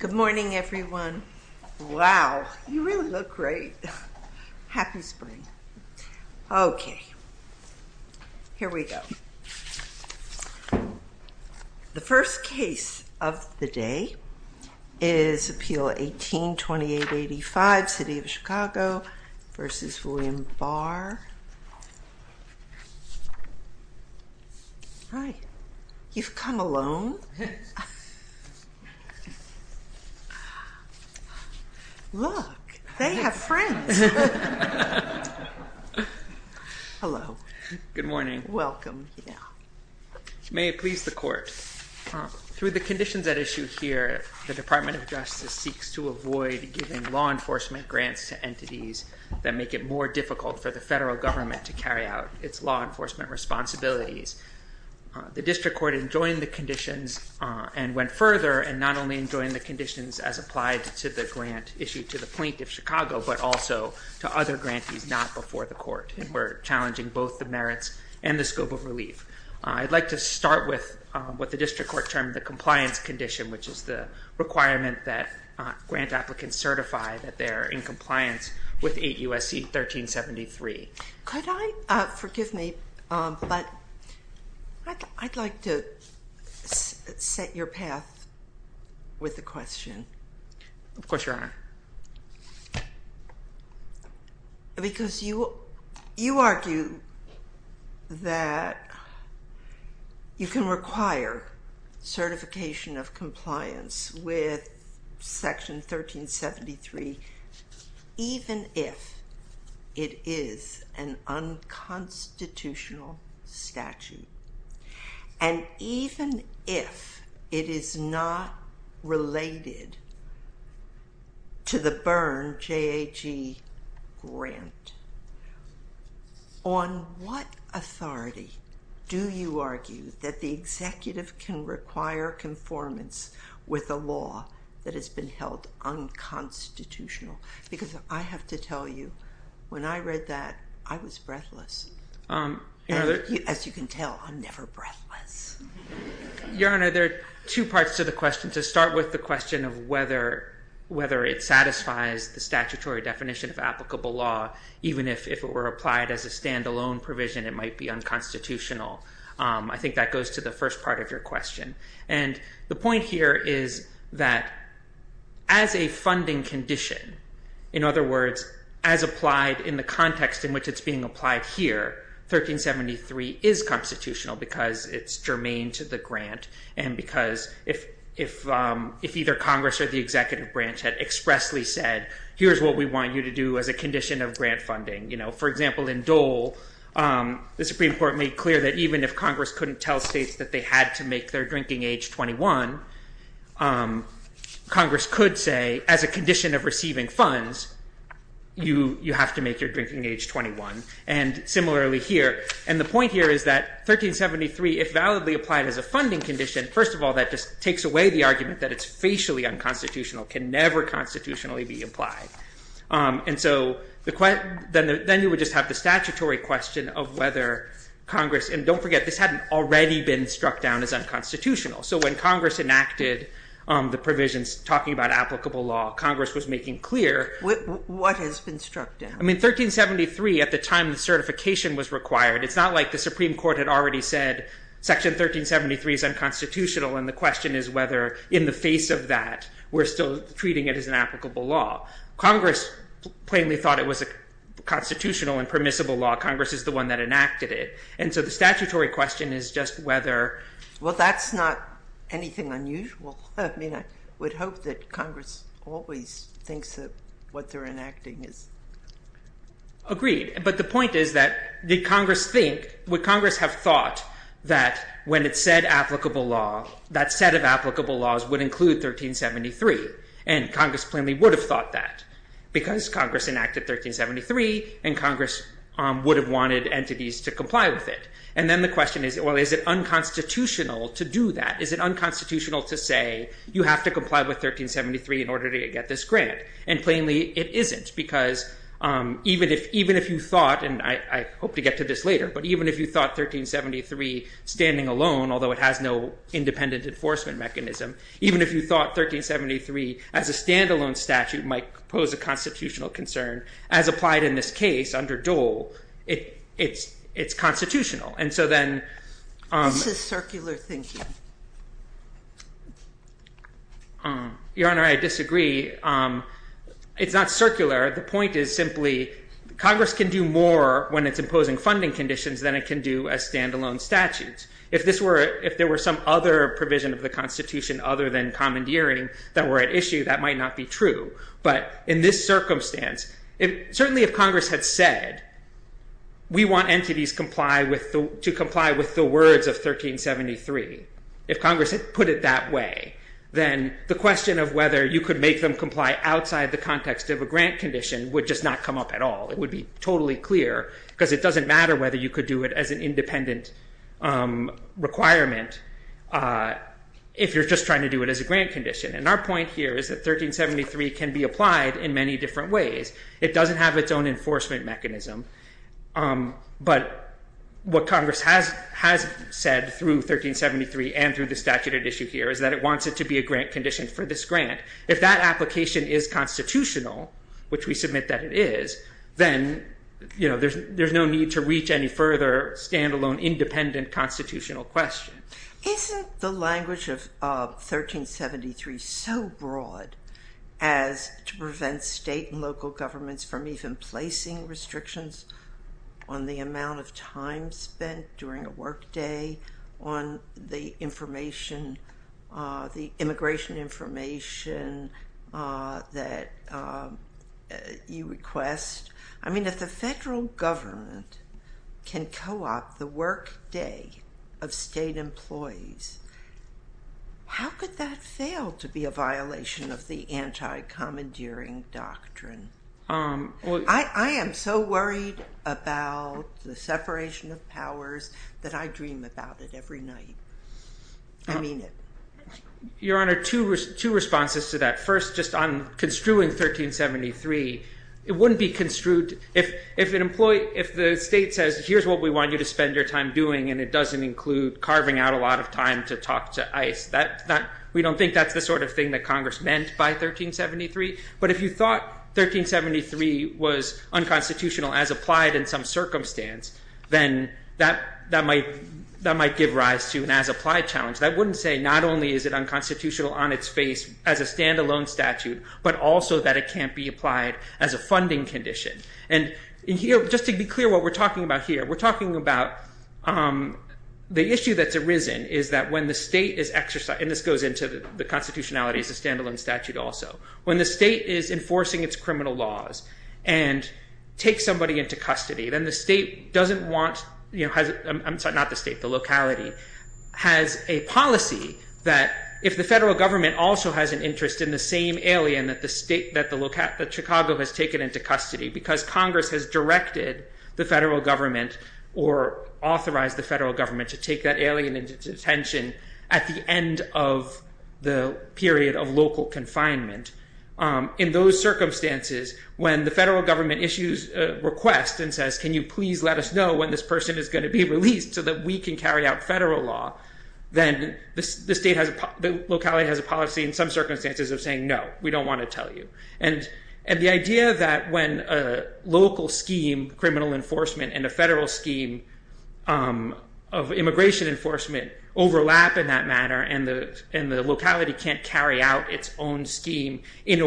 Good morning everyone. Wow, you really look great. Happy spring. Okay, here we go. The first case of the day is Appeal 18-2885, City of Chicago v. William Barr. Hi. You've come alone? Look, they have friends. Hello. Good morning. Welcome. May it please the court. Through the conditions at issue here, the Department of Justice seeks to avoid giving law enforcement responsibilities to the federal government. The district court enjoyed the conditions and went further and not only enjoyed the conditions as applied to the grant issued to the plaintiff, Chicago, but also to other grantees not before the court. We're challenging both the merits and the scope of relief. I'd like to start with what the district court termed the compliance condition, which is the requirement that grant Forgive me, but I'd like to set your path with the question. Of course, Your Honor. Because you argue that you can have an unconstitutional statute, and even if it is not related to the Byrne JAG grant, on what authority do you argue that the executive can require conformance with a law that has been held unconstitutional? Because I have to tell you, when I read that, I was breathless. As you can tell, I'm never breathless. Your Honor, there are two parts to the question. To start with the question of whether it satisfies the statutory definition of applicable law, even if it were applied as a standalone provision, it might be unconstitutional. I The point here is that as a funding condition, in other words, as applied in the context in which it's being applied here, 1373 is constitutional because it's germane to the grant and because if either Congress or the executive branch had expressly said, here's what we want you to do as a condition of grant funding. For example, in Dole, the Supreme Court of Congress couldn't tell states that they had to make their drinking age 21. Congress could say, as a condition of receiving funds, you have to make your drinking age 21. And similarly here. And the point here is that 1373, if validly applied as a funding condition, first of all, that just takes away the argument that it's facially unconstitutional, can never constitutionally be applied. And so then you would just have the statutory question of whether Congress and don't forget, this hadn't already been struck down as unconstitutional. So when Congress enacted the provisions talking about applicable law, Congress was making clear what has been struck down. I mean, 1373 at the time the certification was required. It's not like the Supreme Court had already said Section 1373 is unconstitutional. And the question is whether in the face of that, we're still treating it as an applicable law. Congress plainly thought it was a statutory question is just whether, well, that's not anything unusual. I mean, I would hope that Congress always thinks that what they're enacting is agreed. But the point is that the Congress think what Congress have thought that when it said applicable law, that set of applicable laws would include 1373. And Congress plainly would have thought that because Congress enacted 1373 and Congress would have wanted entities to comply with it. And then the question is, well, is it unconstitutional to do that? Is it unconstitutional to say you have to comply with 1373 in order to get this grant? And plainly it isn't because even if you thought, and I hope to get to this later, but even if you thought 1373 standing alone, although it has no independent enforcement mechanism, even if you thought 1373 as a standalone statute might pose a constitutional concern as applied in this case under Dole, it's constitutional. And so then... This is circular thinking. Your Honor, I disagree. It's not circular. The point is simply Congress can do more when it's imposing funding conditions than it can do as standalone statutes. If there were some other provision of the Constitution other than commandeering that were at issue, that might not be true. But in this circumstance, certainly if Congress had said we want entities to comply with the words of 1373, if Congress had put it that way, then the question of whether you could make them comply outside the context of a grant condition would just not come up at all. It would be totally clear because it doesn't matter whether you could do it as an 1373 can be applied in many different ways. It doesn't have its own enforcement mechanism. But what Congress has said through 1373 and through the statute at issue here is that it wants it to be a grant condition for this grant. If that application is constitutional, which we submit that it is, then there's no need to reach any further standalone independent constitutional question. Isn't the language of 1373 so broad as to prevent state and local governments from even placing restrictions on the amount of time spent during a workday, on the information, the immigration information that you request? I mean, if the federal government can co-opt the workday of state employees, how could that fail to be a violation of the anti-commandeering doctrine? I am so worried about the separation of powers that I dream about it every night. I mean it. Your Honor, two responses to that. First, just on construing 1373, it wouldn't be construed if the state says here's what we want you to spend your time doing and it doesn't include carving out a lot of time to talk to ICE. We don't think that's the sort of thing that Congress meant by 1373. But if you thought 1373 was unconstitutional as applied in some circumstance, then that might give rise to an as applied challenge that wouldn't say not only is it unconstitutional on its face as a standalone statute, but also that it can't be applied as a funding condition. And just to be clear what we're talking about here, we're talking about the issue that's arisen is that when the state is exercising, and this goes into the constitutionality as a standalone statute also, when the state is enforcing its criminal laws and takes somebody into custody, then the state doesn't want, not the state, the locality, has a policy that if the federal government also has an interest in the same alien that Chicago has taken into custody because Congress has directed the federal government or authorized the federal government to take that alien into detention at the end of the period of local confinement. In those circumstances, when the federal government issues a request and says, can you please let us know when this person is going to be released so that we can carry out federal law, then the state has a, the locality has a policy in some circumstances of saying no, we don't want to tell you. And the idea that when a local scheme, criminal enforcement, and a federal scheme of immigration enforcement overlap in that manner, and the locality can't carry out its own scheme in a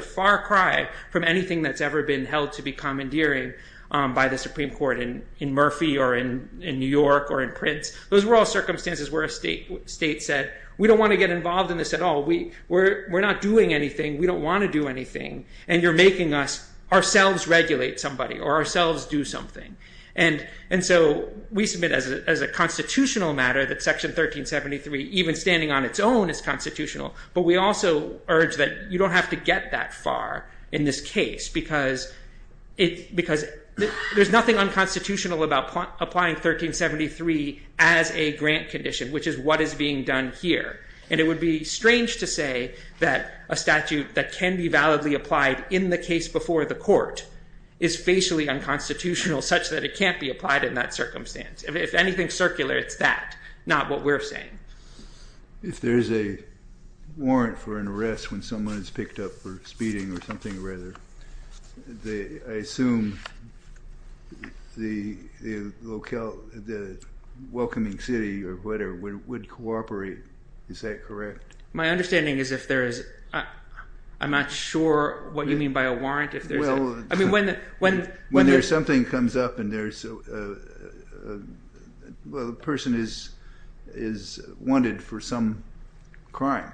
far cry from anything that's ever been held to be commandeering by the Supreme Court in Murphy or in New York or in Prince, those were all circumstances where a state said, we don't want to get involved in this at all. We're not doing anything. We don't want to do anything. And you're making us, ourselves, regulate somebody or ourselves do something. And so we submit as a constitutional matter that section 1373, even standing on its own, is constitutional. But we also urge that you don't have to get that far in this case, because there's nothing unconstitutional about applying 1373 as a grant condition, which is what is being done here. And it would be strange to say that a statute that can be validly applied in the case before the court is facially unconstitutional such that it can't be applied in that circumstance. If anything's circular, it's that, not what we're saying. If there's a warrant for an arrest when someone is picked up for speeding or something, rather, I assume the welcoming city or whatever would cooperate. Is that correct? My understanding is if there is, I'm not sure what you mean by a warrant. When something comes up and a person is wanted for some crime.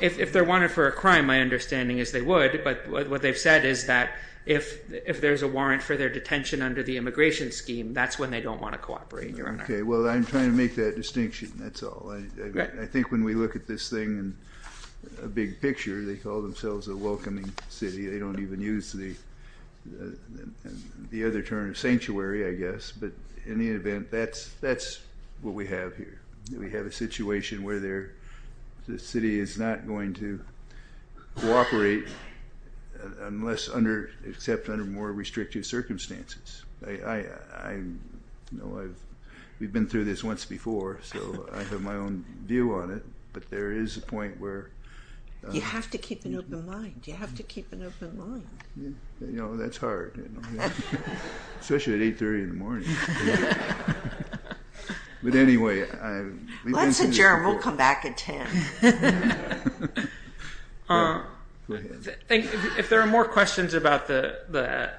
If they're wanted for a crime, my understanding is they would. But what they've said is that if there's a warrant for their detention under the immigration scheme, that's when they don't want to cooperate, Your Honor. Okay, well I'm trying to make that distinction, that's all. I think when we look at this thing in a big picture, they call themselves a welcoming city. They don't even use the other term, sanctuary, I guess. But in the event, that's what we have here. We have a situation where the city is not going to cooperate unless, except under more restrictive circumstances. We've been through this once before, so I have my own view on it, but there is a point where You have to keep an open mind. You have to keep an open mind. You know, that's hard. Especially at 8.30 in the morning. But anyway, we've been through this before. Let's adjourn. We'll come back at 10. If there are more questions about the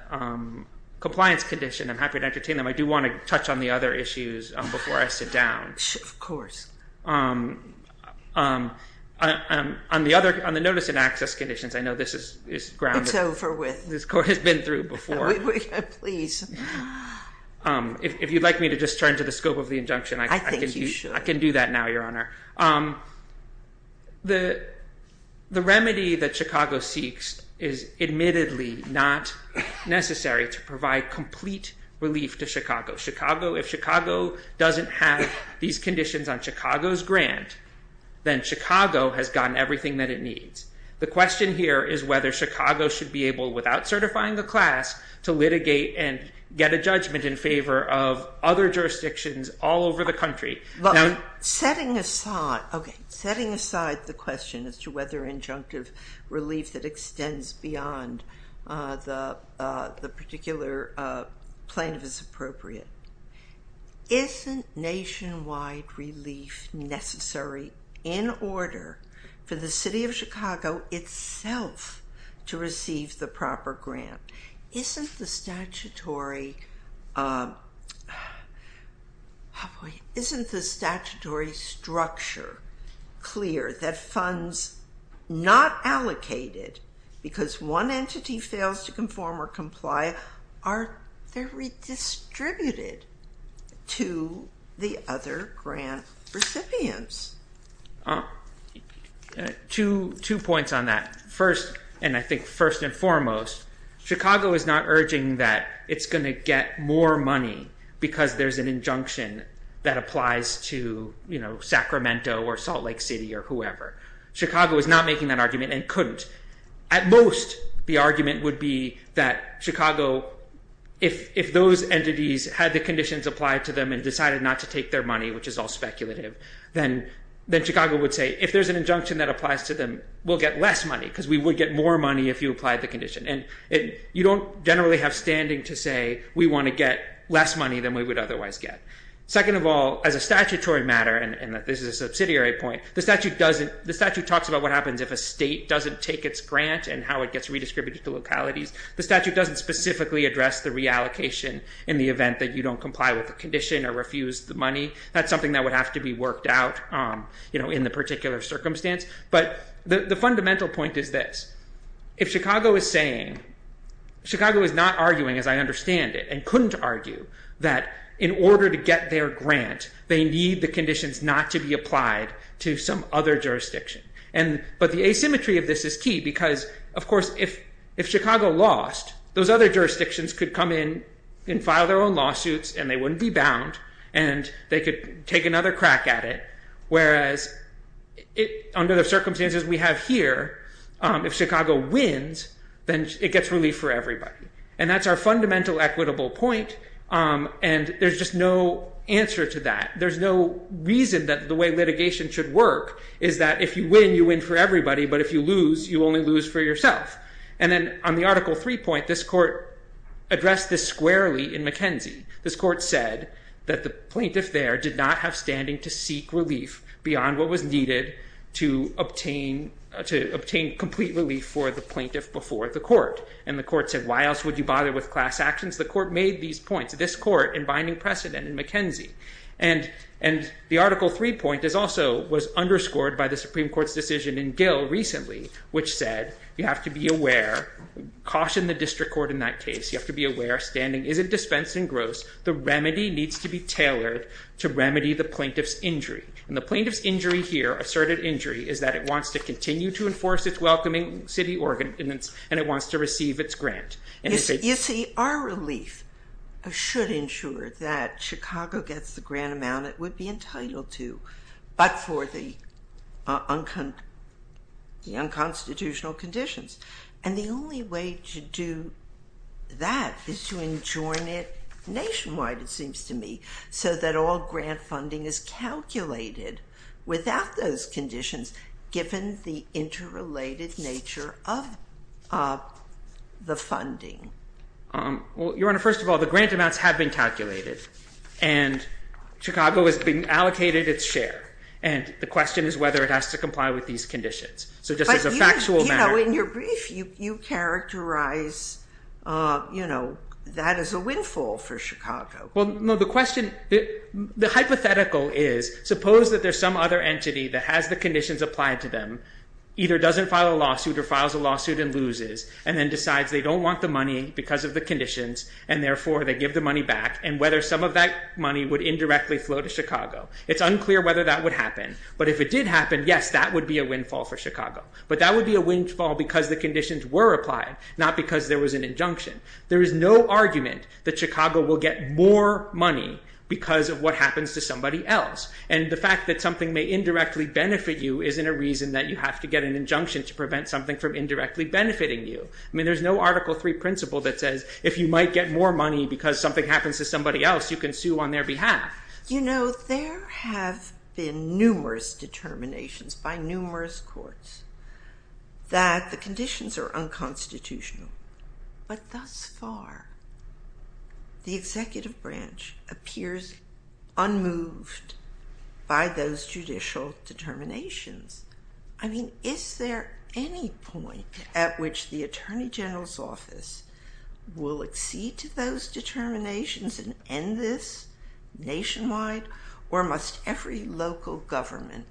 compliance condition, I'm happy to entertain them. I do want to touch on the other issues before I sit down. Of course. On the notice and access conditions, I know this is ground. It's over with. This Court has been through before. Please. If you'd like me to just turn to the scope of the injunction, I can do that now, Your Honor. I think you should. The remedy that Chicago seeks is admittedly not necessary to provide complete relief to Chicago. If Chicago doesn't have these conditions on Chicago's grant, then Chicago has gotten everything that it needs. The question here is whether Chicago should be able, without certifying the class, to litigate and get a judgment in favor of other jurisdictions all over the country. Setting aside the question as to whether injunctive relief that extends beyond the particular plaintiff is appropriate, isn't nationwide relief necessary in order for the City of Chicago itself to receive the proper grant? Isn't the statutory structure clear that funds not allocated because one entity fails to conform or comply are redistributed to the other grant recipients? Two points on that. First, and I think first and foremost, Chicago is not urging that it's going to get more money because there's an injunction that applies to Sacramento or Salt Lake City or whoever. Chicago is not making that argument and couldn't. At most, the argument would be that Chicago, if those entities had the conditions applied to them and decided not to take their money, which is all speculative, then Chicago would say, if there's an injunction that applies to them, we'll get less money because we would get more money if you applied the condition. You don't generally have standing to say we want to get less money than we would otherwise get. Second of all, as a statutory matter, and this is a subsidiary point, the statute talks about what happens if a state doesn't take its grant and how it gets redistributed to localities. The statute doesn't specifically address the reallocation in the event that you don't comply with the condition or refuse the money. That's something that would have to be worked out in the particular circumstance. But the fundamental point is this. If Chicago is saying, Chicago is not arguing, as I understand it, and couldn't argue, that in order to get their grant, they need the conditions not to be applied to some other jurisdiction. But the asymmetry of this is key because, of course, if Chicago lost, those other jurisdictions could come in and file their own lawsuits, and they wouldn't be bound, and they could take another crack at it. Whereas, under the circumstances we have here, if Chicago wins, then it gets relief for everybody. And that's our fundamental equitable point, and there's just no answer to that. There's no reason that the way litigation should work is that if you win, you win for everybody, but if you lose, you only lose for yourself. And then on the Article III point, this court addressed this squarely in McKenzie. This court said that the plaintiff there did not have standing to seek relief beyond what was needed to obtain complete relief for the plaintiff before the court. And the court said, why else would you bother with class actions? The court made these points, this court, in binding precedent in McKenzie. And the Article III point also was underscored by the Supreme Court's decision in Gill recently, which said you have to be aware, caution the district court in that case, you have to be aware standing isn't dispensed in gross. The remedy needs to be tailored to remedy the plaintiff's injury. And the plaintiff's injury here, asserted injury, is that it wants to continue to enforce its welcoming city ordinance, and it wants to receive its grant. You see, our relief should ensure that Chicago gets the grant amount it would be entitled to, but for the unconstitutional conditions. And the only way to do that is to enjoin it nationwide, it seems to me, so that all grant funding is calculated without those conditions, given the interrelated nature of the funding. Well, Your Honor, first of all, the grant amounts have been calculated, and Chicago has been allocated its share. And the question is whether it has to comply with these conditions. In your brief, you characterize that as a windfall for Chicago. Well, no, the hypothetical is, suppose that there's some other entity that has the conditions applied to them, either doesn't file a lawsuit or files a lawsuit and loses, and then decides they don't want the money because of the conditions, and therefore they give the money back, and whether some of that money would indirectly flow to Chicago. It's unclear whether that would happen, but if it did happen, yes, that would be a windfall for Chicago. But that would be a windfall because the conditions were applied, not because there was an injunction. There is no argument that Chicago will get more money because of what happens to somebody else. And the fact that something may indirectly benefit you isn't a reason that you have to get an injunction to prevent something from indirectly benefiting you. I mean, there's no Article III principle that says if you might get more money because something happens to somebody else, you can sue on their behalf. You know, there have been numerous determinations by numerous courts that the conditions are unconstitutional. But thus far, the executive branch appears unmoved by those judicial determinations. I mean, is there any point at which the Attorney General's Office will accede to those determinations and end this nationwide? Or must every local government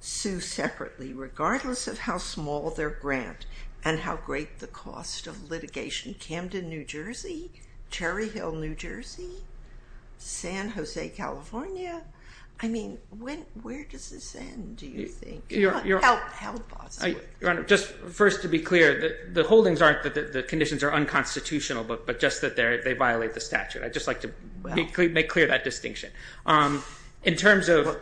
sue separately, regardless of how small their grant and how great the cost of litigation? Camden, New Jersey? Cherry Hill, New Jersey? San Jose, California? I mean, where does this end, do you think? How possible? Your Honor, just first to be clear, the holdings aren't that the conditions are unconstitutional, but just that they violate the statute. I'd just like to make clear that distinction. In terms of,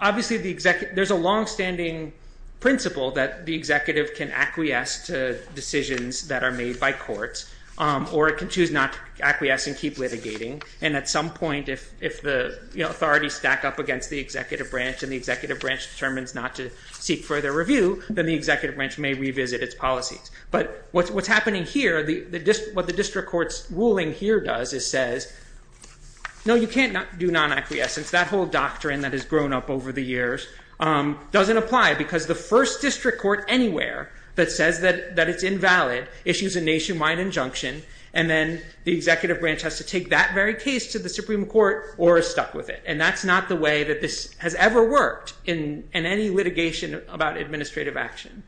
obviously, there's a longstanding principle that the executive can acquiesce to decisions that are made by courts, or it can choose not to acquiesce and keep litigating. And at some point, if the authorities stack up against the executive branch and the executive branch determines not to seek further review, then the executive branch may revisit its policies. But what's happening here, what the district court's ruling here does is says, no, you can't do non-acquiescence. That whole doctrine that has grown up over the years doesn't apply because the first district court anywhere that says that it's invalid issues a nationwide injunction, and then the executive branch has to take that very case to the Supreme Court or is stuck with it. And that's not the way that this has ever worked in any litigation about administrative action.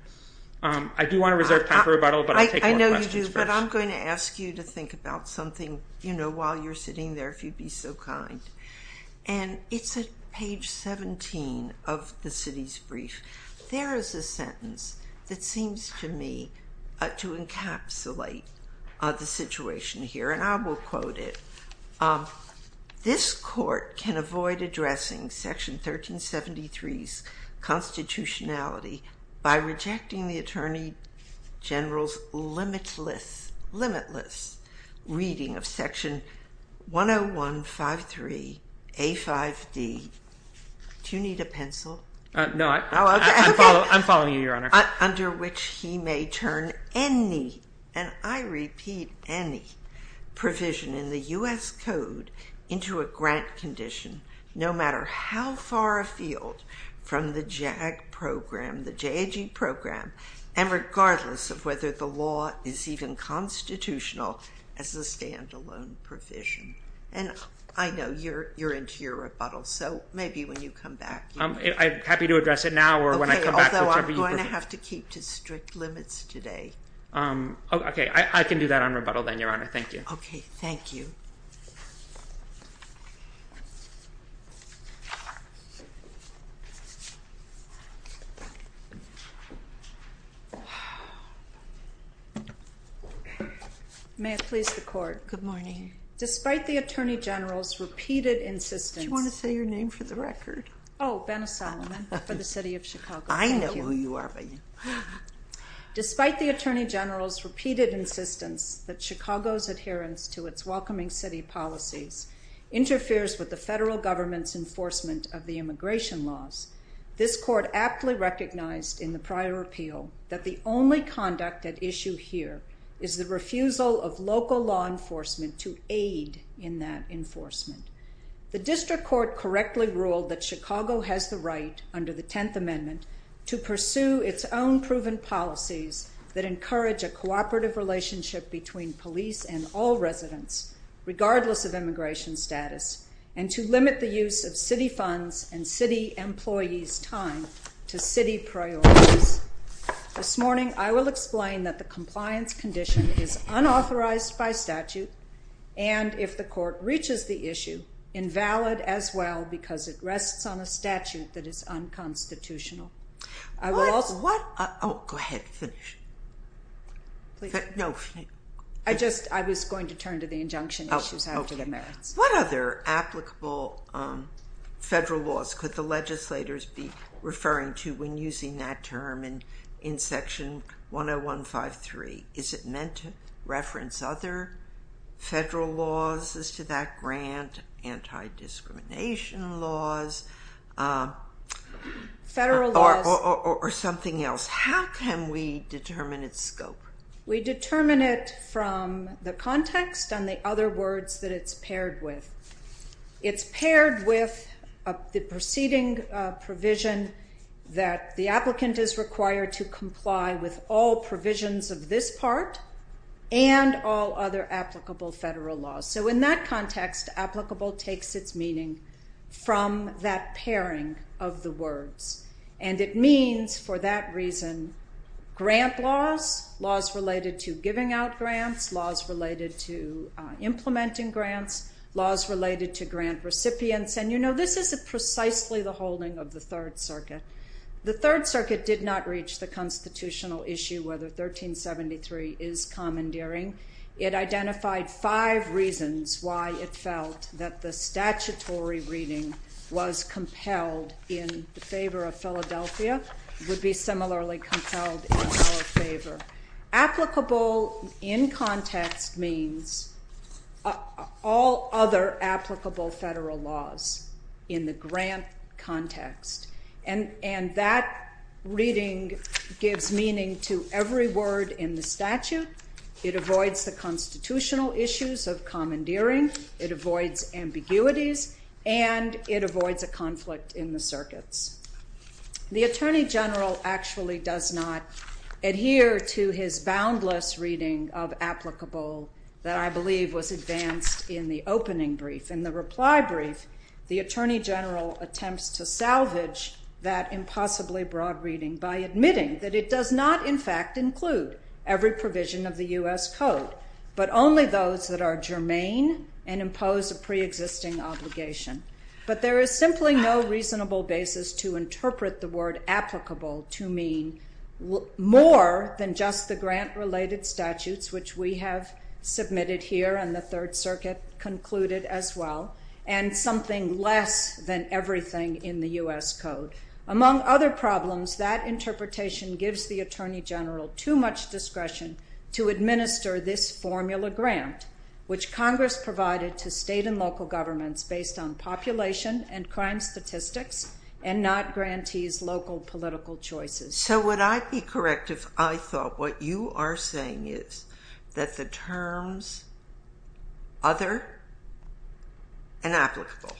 I do want to reserve time for rebuttal, but I'll take a lot of questions first. I know you do, but I'm going to ask you to think about something while you're sitting there, if you'd be so kind. And it's at page 17 of the city's brief. There is a sentence that seems to me to encapsulate the situation here, and I will quote it. This court can avoid addressing Section 1373's constitutionality by rejecting the Attorney General's limitless, limitless reading of Section 101-53-A5D. Do you need a pencil? No, I'm following you, Your Honor. Under which he may turn any, and I repeat any, provision in the U.S. Code into a grant condition no matter how far afield from the JAG program, the JAG program, and regardless of whether the law is even constitutional as a standalone provision. And I know you're into your rebuttal, so maybe when you come back. I'm happy to address it now or when I come back, whichever you prefer. You're going to have to keep to strict limits today. Okay, I can do that on rebuttal then, Your Honor. Thank you. Okay, thank you. May it please the Court. Good morning. Despite the Attorney General's repeated insistence. Do you want to say your name for the record? Oh, Benna Solomon, for the city of Chicago. I know who you are, Benna. Despite the Attorney General's repeated insistence that Chicago's adherence to its welcoming city policies interferes with the federal government's enforcement of the immigration laws, this Court aptly recognized in the prior appeal that the only conduct at issue here is the refusal of local law enforcement to aid in that enforcement. The District Court correctly ruled that Chicago has the right, under the Tenth Amendment, to pursue its own proven policies that encourage a cooperative relationship between police and all residents, regardless of immigration status, and to limit the use of city funds and city employees' time to city priorities. This morning, I will explain that the compliance condition is unauthorized by statute, and if the Court reaches the issue, invalid as well, because it rests on a statute that is unconstitutional. What? Oh, go ahead. Finish. I was going to turn to the injunction issues after the merits. What other applicable federal laws could the legislators be referring to when using that term in Section 10153? Is it meant to reference other federal laws as to that grant, anti-discrimination laws, or something else? How can we determine its scope? We determine it from the context and the other words that it's paired with. It's paired with the preceding provision that the applicant is required to comply with all provisions of this part and all other applicable federal laws. So in that context, applicable takes its meaning from that pairing of the words, and it means, for that reason, grant laws, laws related to giving out grants, laws related to implementing grants, laws related to grant recipients, and you know, this is precisely the holding of the Third Circuit. The Third Circuit did not reach the constitutional issue whether 1373 is commandeering. It identified five reasons why it felt that the statutory reading was compelled in favor of Philadelphia, would be similarly compelled in our favor. Applicable in context means all other applicable federal laws in the grant context, and that reading gives meaning to every word in the statute. It avoids the constitutional issues of commandeering. It avoids ambiguities, and it avoids a conflict in the circuits. The Attorney General actually does not adhere to his boundless reading of applicable that I believe was advanced in the opening brief. In the reply brief, the Attorney General attempts to salvage that impossibly broad reading by admitting that it does not, in fact, include every provision of the U.S. Code, but only those that are germane and impose a preexisting obligation. But there is simply no reasonable basis to interpret the word applicable to mean more than just the grant-related statutes, which we have submitted here and the Third Circuit concluded as well, and something less than everything in the U.S. Code. Among other problems, that interpretation gives the Attorney General too much discretion to administer this formula grant, which Congress provided to state and local governments based on population and crime statistics and not grantees' local political choices. So would I be correct if I thought what you are saying is that the terms other and applicable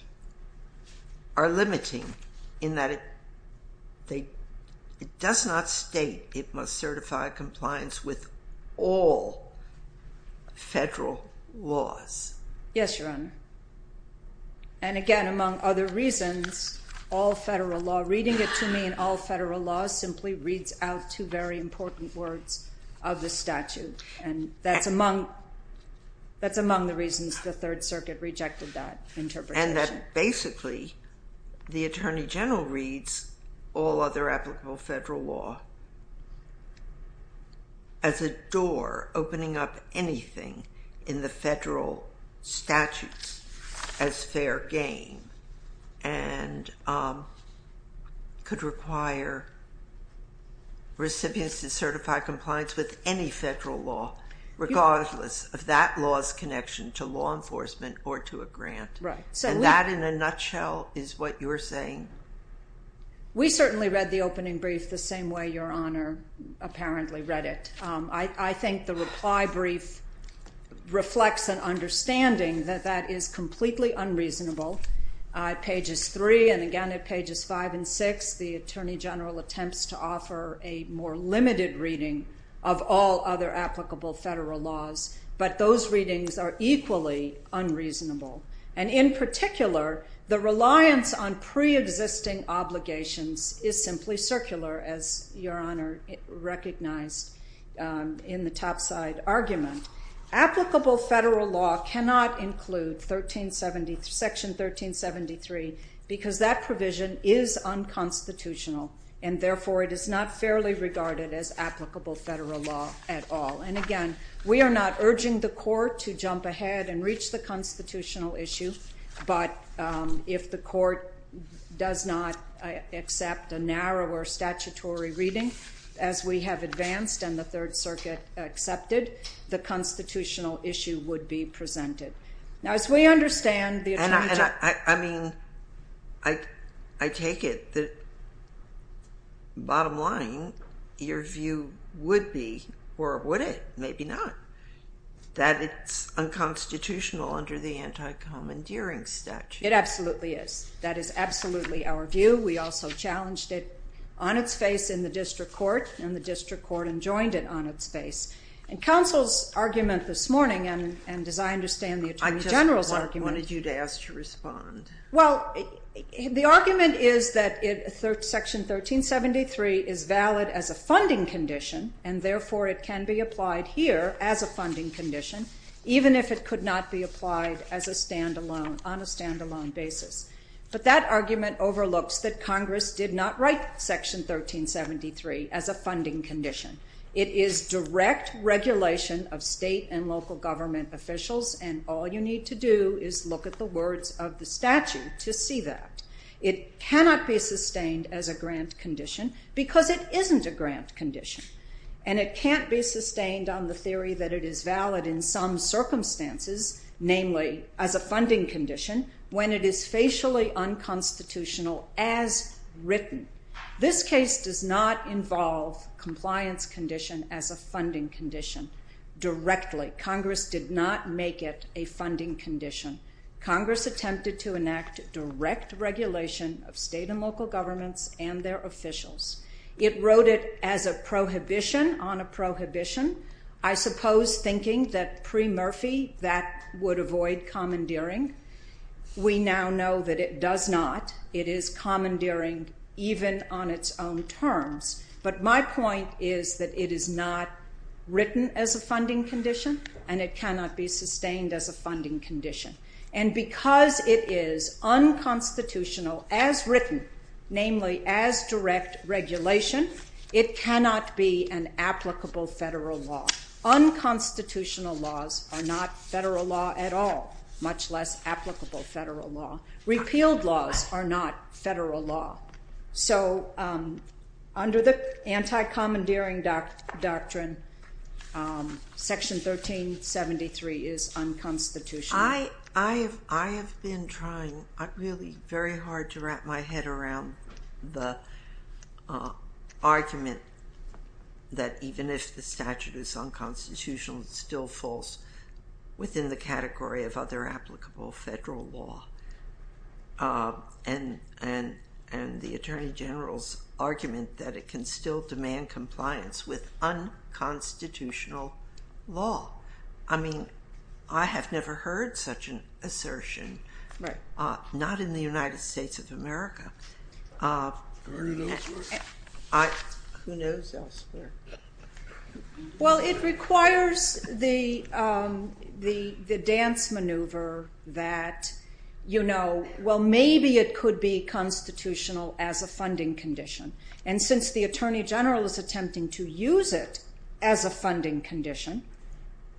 are limiting, in that it does not state it must certify compliance with all federal laws? Yes, Your Honor. And again, among other reasons, all federal law, reading it to me in all federal law, simply reads out two very important words of the statute, and that's among the reasons the Third Circuit rejected that interpretation. And that basically the Attorney General reads all other applicable federal law as a door opening up anything in the federal statutes as fair game and could require recipients to certify compliance with any federal law, regardless of that law's connection to law enforcement or to a grant. And that, in a nutshell, is what you are saying? We certainly read the opening brief the same way Your Honor apparently read it. I think the reply brief reflects an understanding that that is completely unreasonable. At pages 3 and, again, at pages 5 and 6, the Attorney General attempts to offer a more limited reading of all other applicable federal laws, but those readings are equally unreasonable. And in particular, the reliance on preexisting obligations is simply circular, as Your Honor recognized in the topside argument. Applicable federal law cannot include Section 1373 because that provision is unconstitutional, and therefore it is not fairly regarded as applicable federal law at all. And, again, we are not urging the Court to jump ahead and reach the constitutional issue, but if the Court does not accept a narrower statutory reading, as we have advanced and the Third Circuit accepted, the constitutional issue would be presented. Now, as we understand the Attorney General... I mean, I take it that, bottom line, your view would be, or would it? Maybe not. That it's unconstitutional under the anti-commandeering statute. It absolutely is. That is absolutely our view. We also challenged it on its face in the District Court, and the District Court enjoined it on its face. And counsel's argument this morning, and as I understand the Attorney General's argument... I wanted you to ask to respond. Well, the argument is that Section 1373 is valid as a funding condition, and therefore it can be applied here as a funding condition, even if it could not be applied on a stand-alone basis. But that argument overlooks that Congress did not write Section 1373 as a funding condition. It is direct regulation of state and local government officials, and all you need to do is look at the words of the statute to see that. It cannot be sustained as a grant condition because it isn't a grant condition, and it can't be sustained on the theory that it is valid in some circumstances, namely as a funding condition, when it is facially unconstitutional as written. This case does not involve compliance condition as a funding condition directly. Congress did not make it a funding condition. Congress attempted to enact direct regulation of state and local governments and their officials. It wrote it as a prohibition on a prohibition, I suppose thinking that pre-Murphy that would avoid commandeering. We now know that it does not. It is commandeering even on its own terms. But my point is that it is not written as a funding condition, and it cannot be sustained as a funding condition. And because it is unconstitutional as written, namely as direct regulation, it cannot be an applicable federal law. Unconstitutional laws are not federal law at all, much less applicable federal law. Repealed laws are not federal law. So under the anti-commandeering doctrine, Section 1373 is unconstitutional. I have been trying really very hard to wrap my head around the argument that even if the statute is unconstitutional, it's still false within the category of other applicable federal law. And the Attorney General's argument that it can still demand compliance with unconstitutional law. I mean, I have never heard such an assertion, not in the United States of America. Who knows elsewhere? Well, it requires the dance maneuver that, you know, well, maybe it could be constitutional as a funding condition. And since the Attorney General is attempting to use it as a funding condition,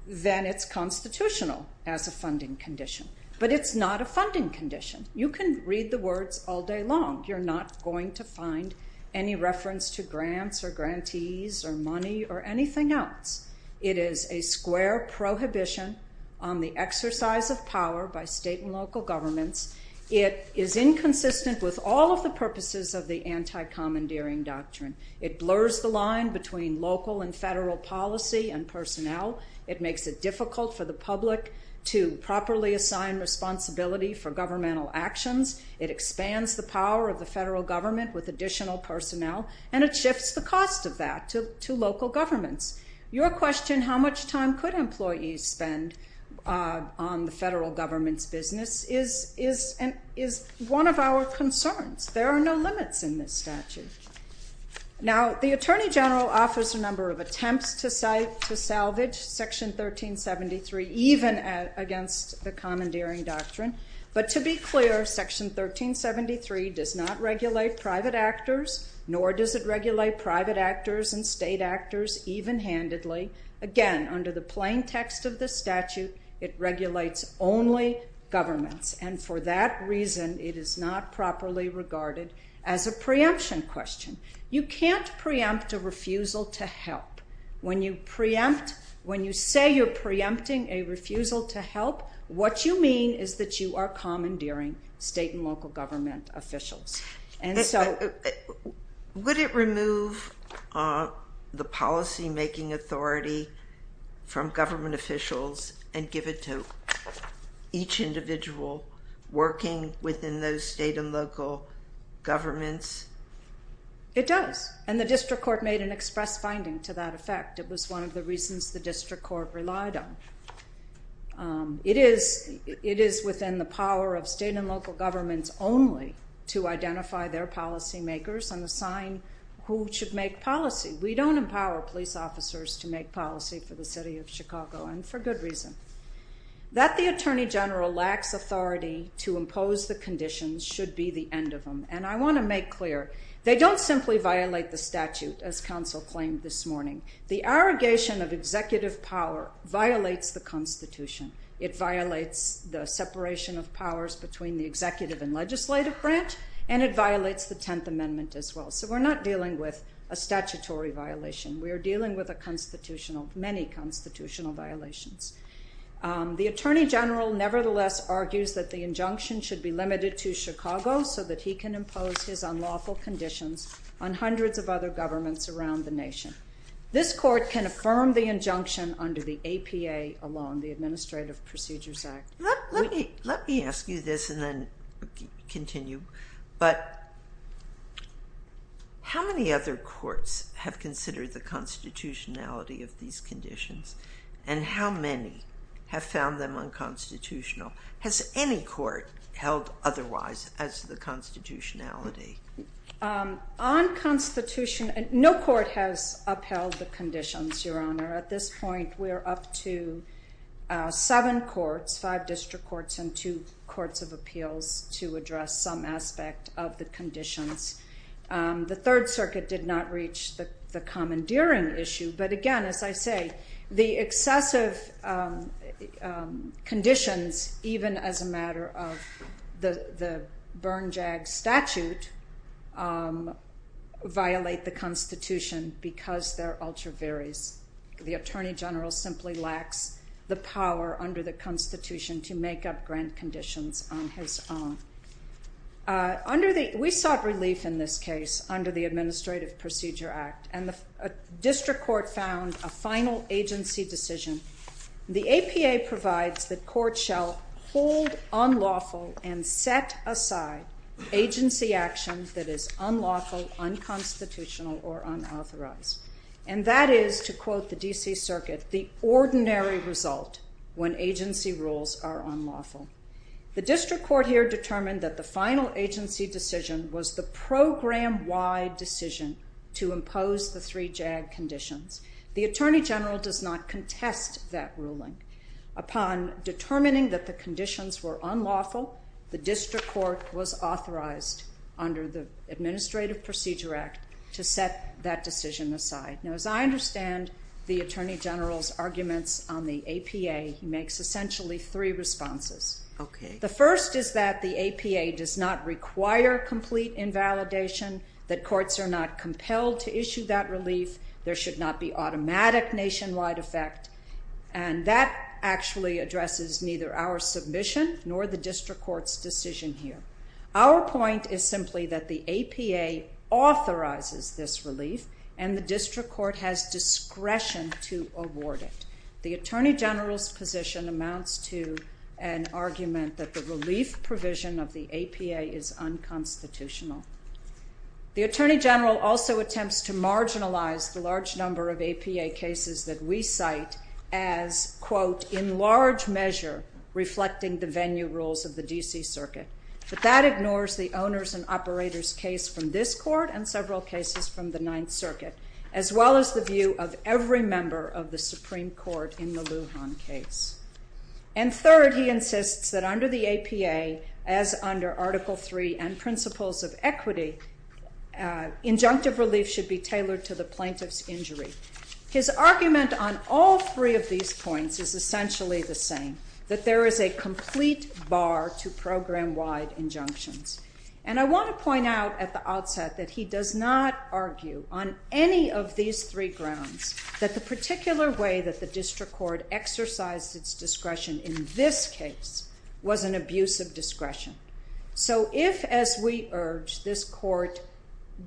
then it's constitutional as a funding condition. But it's not a funding condition. You can read the words all day long. You're not going to find any reference to grants or grantees or money or anything else. It is a square prohibition on the exercise of power by state and local governments. It is inconsistent with all of the purposes of the anti-commandeering doctrine. It blurs the line between local and federal policy and personnel. It makes it difficult for the public to properly assign responsibility for governmental actions. It expands the power of the federal government with additional personnel, and it shifts the cost of that to local governments. Your question, how much time could employees spend on the federal government's business, is one of our concerns. There are no limits in this statute. Now, the Attorney General offers a number of attempts to salvage Section 1373, even against the commandeering doctrine. But to be clear, Section 1373 does not regulate private actors, nor does it regulate private actors and state actors even-handedly. Again, under the plain text of the statute, it regulates only governments. And for that reason, it is not properly regarded as a preemption question. You can't preempt a refusal to help. When you say you're preempting a refusal to help, what you mean is that you are commandeering state and local government officials. And so... Would it remove the policymaking authority from government officials and give it to each individual working within those state and local governments? It does. And the District Court made an express finding to that effect. It was one of the reasons the District Court relied on. It is within the power of state and local governments only to identify their policymakers and assign who should make policy. We don't empower police officers to make policy for the city of Chicago, and for good reason. That the Attorney General lacks authority to impose the conditions should be the end of him. And I want to make clear, they don't simply violate the statute, as counsel claimed this morning. The arrogation of executive power violates the Constitution. It violates the separation of powers between the executive and legislative branch, and it violates the Tenth Amendment as well. So we're not dealing with a statutory violation. We are dealing with many constitutional violations. The Attorney General nevertheless argues that the injunction should be limited to Chicago so that he can impose his unlawful conditions on hundreds of other governments around the nation. This court can affirm the injunction under the APA along the Administrative Procedures Act. Let me ask you this and then continue. But how many other courts have considered the constitutionality of these conditions? And how many have found them unconstitutional? Has any court held otherwise as the constitutionality? On constitutionality, no court has upheld the conditions, Your Honor. At this point, we're up to seven courts, five district courts, and two courts of appeals to address some aspect of the conditions. The Third Circuit did not reach the commandeering issue. But again, as I say, the excessive conditions, even as a matter of the Bernjag statute, violate the constitution because they're ultra-various. The Attorney General simply lacks the power under the constitution to make up grand conditions on his own. We sought relief in this case under the Administrative Procedure Act, and the district court found a final agency decision. The APA provides that courts shall hold unlawful and set aside agency action that is unlawful, unconstitutional, or unauthorized. And that is, to quote the D.C. Circuit, the ordinary result when agency rules are unlawful. The district court here determined that the final agency decision was the program-wide decision to impose the three JAG conditions. The Attorney General does not contest that ruling. Upon determining that the conditions were unlawful, the district court was authorized under the Administrative Procedure Act to set that decision aside. Now, as I understand the Attorney General's arguments on the APA, he makes essentially three responses. The first is that the APA does not require complete invalidation, that courts are not compelled to issue that relief, there should not be automatic nationwide effect, and that actually addresses neither our submission nor the district court's decision here. Our point is simply that the APA authorizes this relief, and the district court has discretion to award it. The Attorney General's position amounts to an argument that the relief provision of the APA is unconstitutional. The Attorney General also attempts to marginalize the large number of APA cases that we cite as, quote, in large measure reflecting the venue rules of the D.C. Circuit. But that ignores the owners and operators case from this court and several cases from the Ninth Circuit, as well as the view of every member of the Supreme Court in the Lujan case. And third, he insists that under the APA, as under Article III and Principles of Equity, injunctive relief should be tailored to the plaintiff's injury. His argument on all three of these points is essentially the same, that there is a complete bar to program-wide injunctions. And I want to point out at the outset that he does not argue on any of these three grounds that the particular way that the district court exercised its discretion in this case was an abuse of discretion. So if, as we urge, this court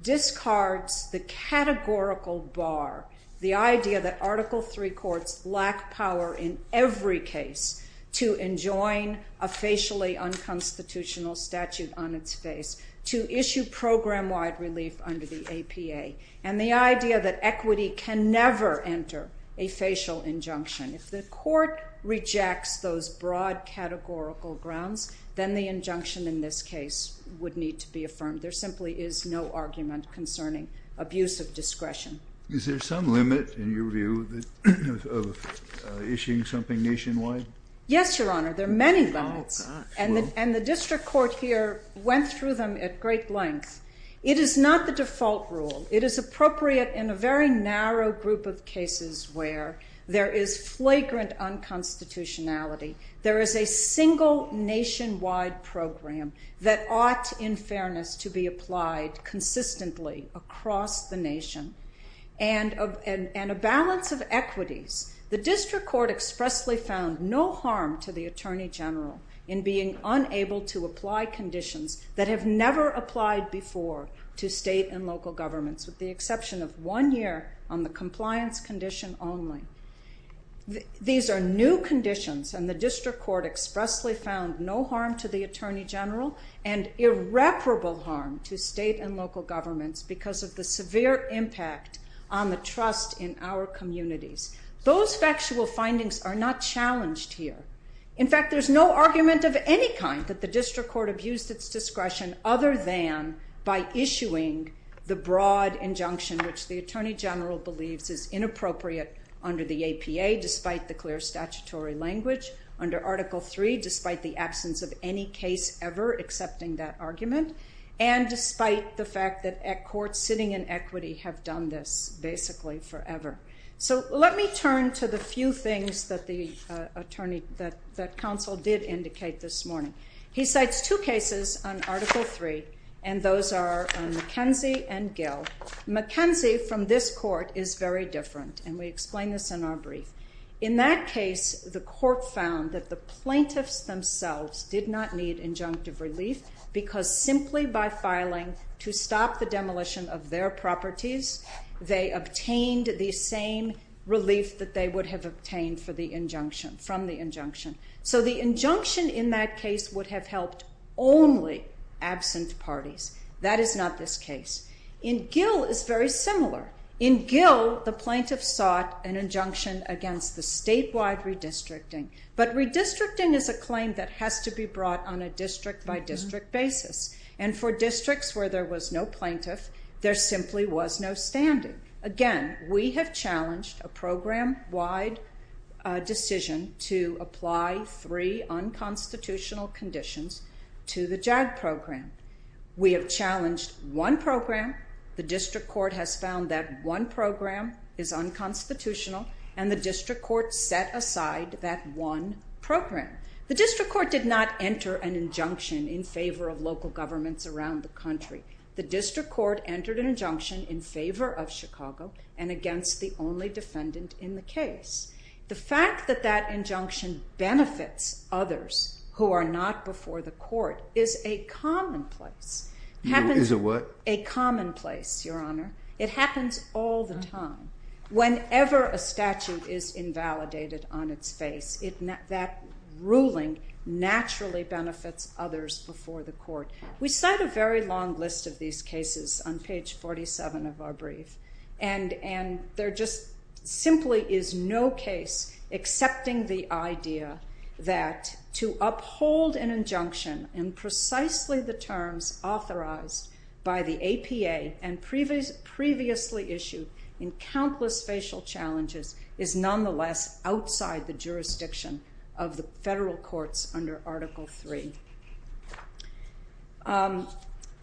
discards the categorical bar, the idea that Article III courts lack power in every case to enjoin a facially unconstitutional statute on its face, to issue program-wide relief under the APA, and the idea that equity can never enter a facial injunction, if the court rejects those broad categorical grounds, then the injunction in this case would need to be affirmed. There simply is no argument concerning abuse of discretion. Is there some limit, in your view, of issuing something nationwide? Yes, Your Honor, there are many limits. And the district court here went through them at great length. It is not the default rule. It is appropriate in a very narrow group of cases where there is flagrant unconstitutionality. There is a single nationwide program that ought, in fairness, to be applied consistently across the nation. And a balance of equities. The district court expressly found no harm to the Attorney General in being unable to apply conditions that have never applied before to state and local governments, with the exception of one year on the compliance condition only. These are new conditions, and the district court expressly found no harm to the Attorney General and irreparable harm to state and local governments because of the severe impact on the trust in our communities. Those factual findings are not challenged here. In fact, there is no argument of any kind that the district court abused its discretion other than by issuing the broad injunction which the Attorney General believes is inappropriate under the APA, despite the clear statutory language under Article III, despite the absence of any case ever accepting that argument, and despite the fact that courts sitting in equity have done this basically forever. So let me turn to the few things that the counsel did indicate this morning. He cites two cases on Article III, and those are McKenzie and Gill. McKenzie, from this court, is very different, and we explain this in our brief. In that case, the court found that the plaintiffs themselves did not need injunctive relief because simply by filing to stop the demolition of their properties, they obtained the same relief that they would have obtained from the injunction. So the injunction in that case would have helped only absent parties. That is not this case. In Gill, it's very similar. In Gill, the plaintiffs sought an injunction against the statewide redistricting, but redistricting is a claim that has to be brought on a district-by-district basis, and for districts where there was no plaintiff, there simply was no standing. Again, we have challenged a program-wide decision to apply three unconstitutional conditions to the JAG program. We have challenged one program. The district court has found that one program is unconstitutional, and the district court set aside that one program. The district court did not enter an injunction in favor of local governments around the country. The district court entered an injunction in favor of Chicago and against the only defendant in the case. The fact that that injunction benefits others who are not before the court is a commonplace. Is a what? A commonplace, Your Honor. It happens all the time. Whenever a statute is invalidated on its face, that ruling naturally benefits others before the court. We cite a very long list of these cases on page 47 of our brief, and there just simply is no case accepting the idea that to uphold an injunction in precisely the terms authorized by the APA and previously issued in countless facial challenges is nonetheless outside the jurisdiction of the federal courts under Article III.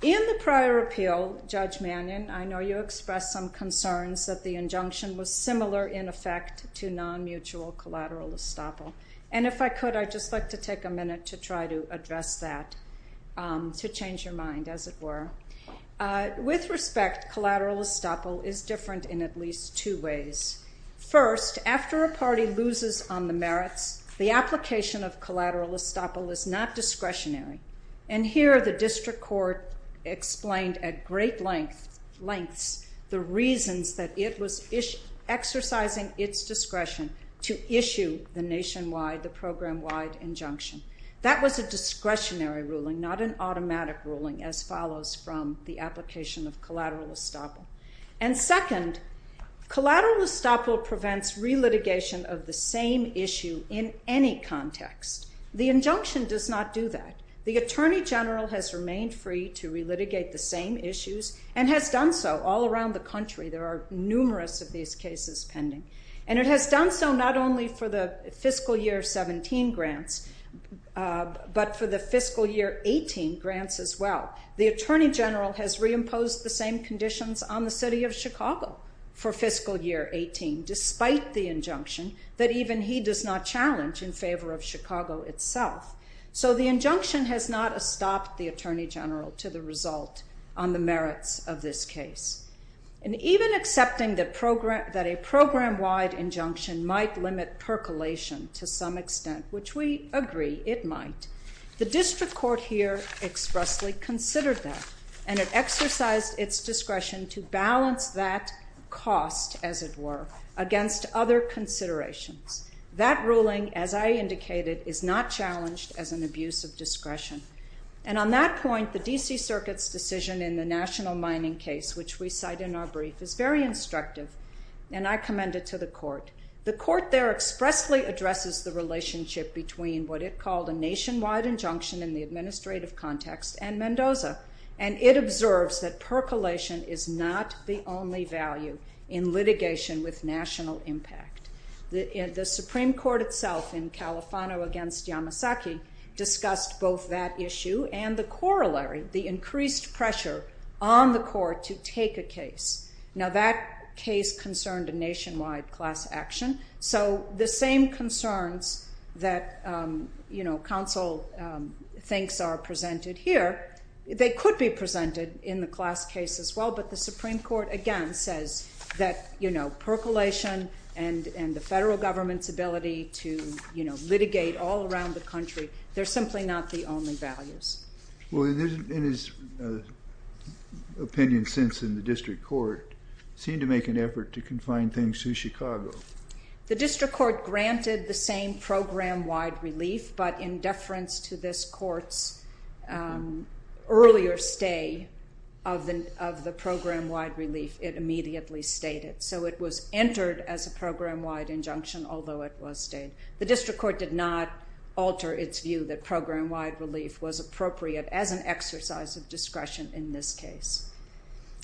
In the prior appeal, Judge Mannion, I know you expressed some concerns that the injunction was similar in effect to non-mutual collateral estoppel. And if I could, I'd just like to take a minute to try to address that to change your mind, as it were. With respect, collateral estoppel is different in at least two ways. First, after a party loses on the merits, the application of collateral estoppel is not discretionary. And here the district court explained at great lengths the reasons that it was exercising its discretion to issue the nationwide, the program-wide injunction. That was a discretionary ruling, not an automatic ruling, as follows from the application of collateral estoppel. And second, collateral estoppel prevents relitigation of the same issue in any context. The injunction does not do that. The attorney general has remained free to relitigate the same issues and has done so all around the country. There are numerous of these cases pending. And it has done so not only for the fiscal year 17 grants, but for the fiscal year 18 grants as well. The attorney general has reimposed the same conditions on the city of Chicago for fiscal year 18, despite the injunction that even he does not challenge in favor of Chicago itself. So the injunction has not stopped the attorney general to the result on the merits of this case. And even accepting that a program-wide injunction might limit percolation to some extent, which we agree it might, the district court here expressly considered that and it exercised its discretion to balance that cost, as it were, against other considerations. That ruling, as I indicated, is not challenged as an abuse of discretion. And on that point, the D.C. Circuit's decision in the national mining case, which we cite in our brief, is very instructive, and I commend it to the court. The court there expressly addresses the relationship between what it called a nationwide injunction in the administrative context and Mendoza, and it observes that percolation is not the only value in litigation with national impact. The Supreme Court itself in Califano against Yamasaki discussed both that issue and the corollary, the increased pressure on the court to take a case. Now, that case concerned a nationwide class action, so the same concerns that, you know, counsel thinks are presented here, they could be presented in the class case as well, but the Supreme Court again says that, you know, percolation and the federal government's ability to, you know, litigate all around the country, they're simply not the only values. Well, in his opinion since in the district court, it seemed to make an effort to confine things to Chicago. The district court granted the same program-wide relief, but in deference to this court's earlier stay of the program-wide relief, it immediately stayed it. So it was entered as a program-wide injunction, although it was stayed. The district court did not alter its view that program-wide relief was appropriate as an exercise of discretion in this case.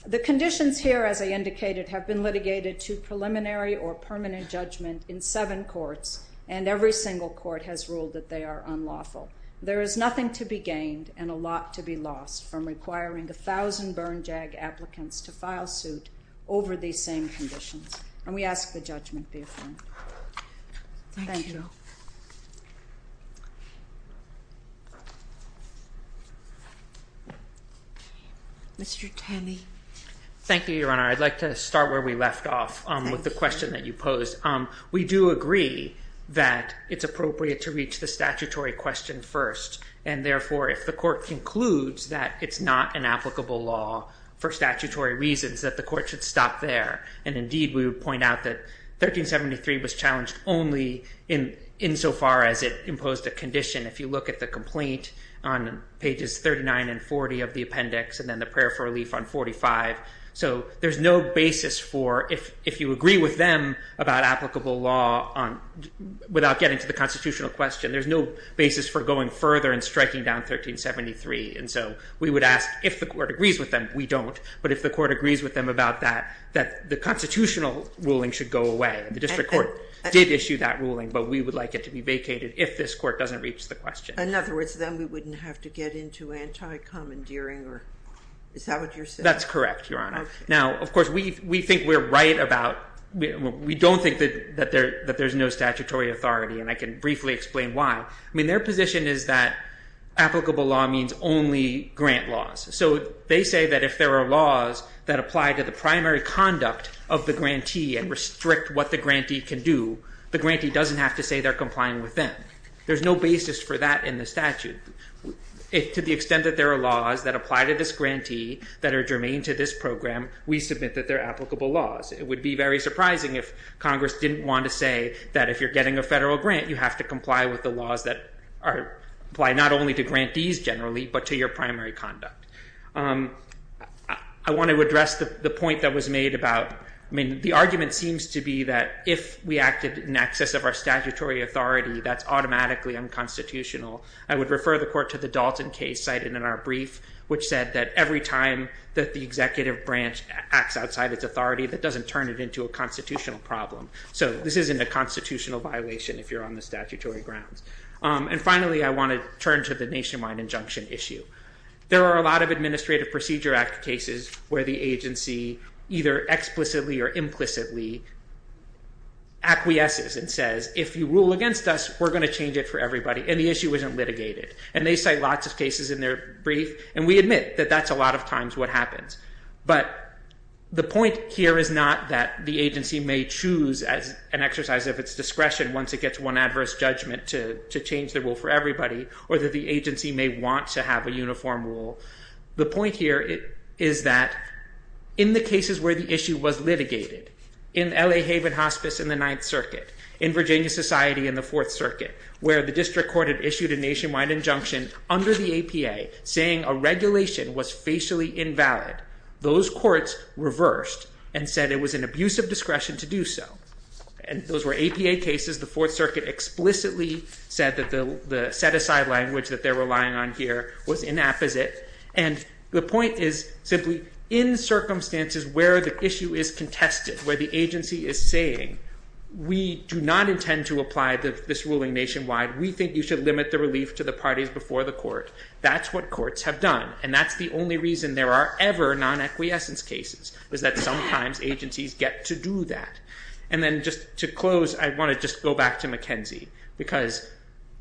The conditions here, as I indicated, have been litigated to preliminary or permanent judgment in seven courts, and every single court has ruled that they are unlawful. There is nothing to be gained and a lot to be lost from requiring 1,000 burn-jag applicants to file suit over these same conditions, and we ask the judgment be affirmed. Thank you. Mr. Tanney. Thank you, Your Honor. I'd like to start where we left off with the question that you posed. We do agree that it's appropriate to reach the statutory question first, and therefore if the court concludes that it's not an applicable law for statutory reasons, that the court should stop there, and indeed we would point out that 1373 was challenged only insofar as it imposed a condition. If you look at the complaint on pages 39 and 40 of the appendix and then the prayer for relief on 45, so there's no basis for, if you agree with them about applicable law without getting to the constitutional question, there's no basis for going further and striking down 1373, and so we would ask if the court agrees with them. We don't, but if the court agrees with them about that, that the constitutional ruling should go away. The district court did issue that ruling, but we would like it to be vacated if this court doesn't reach the question. In other words, then we wouldn't have to get into anti-commandeering, or is that what you're saying? That's correct, Your Honor. Now, of course, we think we're right about, we don't think that there's no statutory authority, and I can briefly explain why. I mean, their position is that applicable law means only grant laws, so they say that if there are laws that apply to the primary conduct of the grantee and restrict what the grantee can do, the grantee doesn't have to say they're complying with them. There's no basis for that in the statute. To the extent that there are laws that apply to this grantee that are germane to this program, we submit that they're applicable laws. It would be very surprising if Congress didn't want to say that if you're getting a federal grant, you have to comply with the laws that apply not only to grantees generally, but to your primary conduct. I want to address the point that was made about... I mean, the argument seems to be that if we acted in excess of our statutory authority, that's automatically unconstitutional. I would refer the court to the Dalton case cited in our brief, which said that every time that the executive branch acts outside its authority, that doesn't turn it into a constitutional problem. So this isn't a constitutional violation if you're on the statutory grounds. And finally, I want to turn to the Nationwide Injunction issue. There are a lot of Administrative Procedure Act cases where the agency either explicitly or implicitly acquiesces and says, if you rule against us, we're going to change it for everybody, and the issue isn't litigated. And they cite lots of cases in their brief, and we admit that that's a lot of times what happens. But the point here is not that the agency may choose, as an exercise of its discretion, once it gets one adverse judgment to change the rule for everybody, or that the agency may want to have a uniform rule. The point here is that in the cases where the issue was litigated, in the L.A. Haven Hospice in the Ninth Circuit, in Virginia Society in the Fourth Circuit, where the district court had issued a Nationwide Injunction under the APA saying a regulation was facially invalid, those courts reversed and said it was an abuse of discretion to do so. And those were APA cases. The Fourth Circuit explicitly said that the set-aside language that they're relying on here was inapposite. And the point is simply, in circumstances where the issue is contested, where the agency is saying, we do not intend to apply this ruling nationwide, we think you should limit the relief to the parties before the court, that's what courts have done. And that's the only reason there are ever non-equiessence cases, is that sometimes agencies get to do that. And then just to close, I want to just go back to McKenzie, because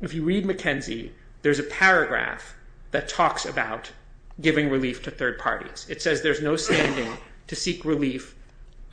if you read McKenzie, there's a paragraph that talks about giving relief to third parties. It says there's no standing to seek relief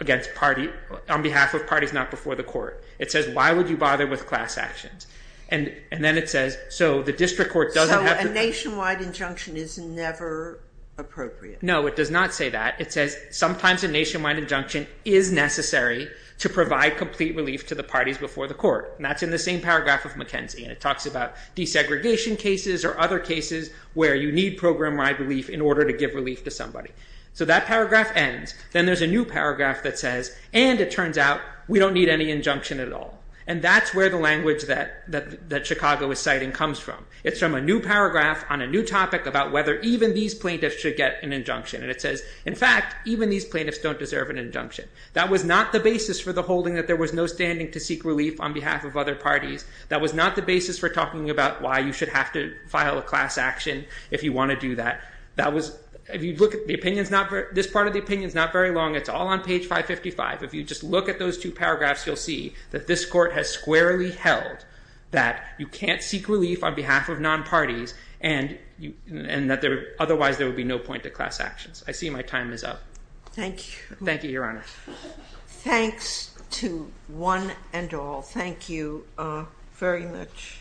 on behalf of parties not before the court. It says, why would you bother with class actions? And then it says, so the district court doesn't have to... So a Nationwide Injunction is never appropriate. No, it does not say that. It says sometimes a Nationwide Injunction is necessary to provide complete relief to the parties before the court. And that's in the same paragraph of McKenzie. And it talks about desegregation cases or other cases where you need program-wide relief in order to give relief to somebody. So that paragraph ends. Then there's a new paragraph that says, and it turns out we don't need any injunction at all. And that's where the language that Chicago is citing comes from. It's from a new paragraph on a new topic about whether even these plaintiffs should get an injunction. And it says, in fact, even these plaintiffs don't deserve an injunction. That was not the basis for the holding that there was no standing to seek relief on behalf of other parties. That was not the basis for talking about why you should have to file a class action if you want to do that. This part of the opinion is not very long. It's all on page 555. If you just look at those two paragraphs, you'll see that this court has squarely held that you can't seek relief on behalf of non-parties and that otherwise there would be no point to class actions. I see my time is up. Thank you, Your Honor. Thanks to one and all. Thank you very much.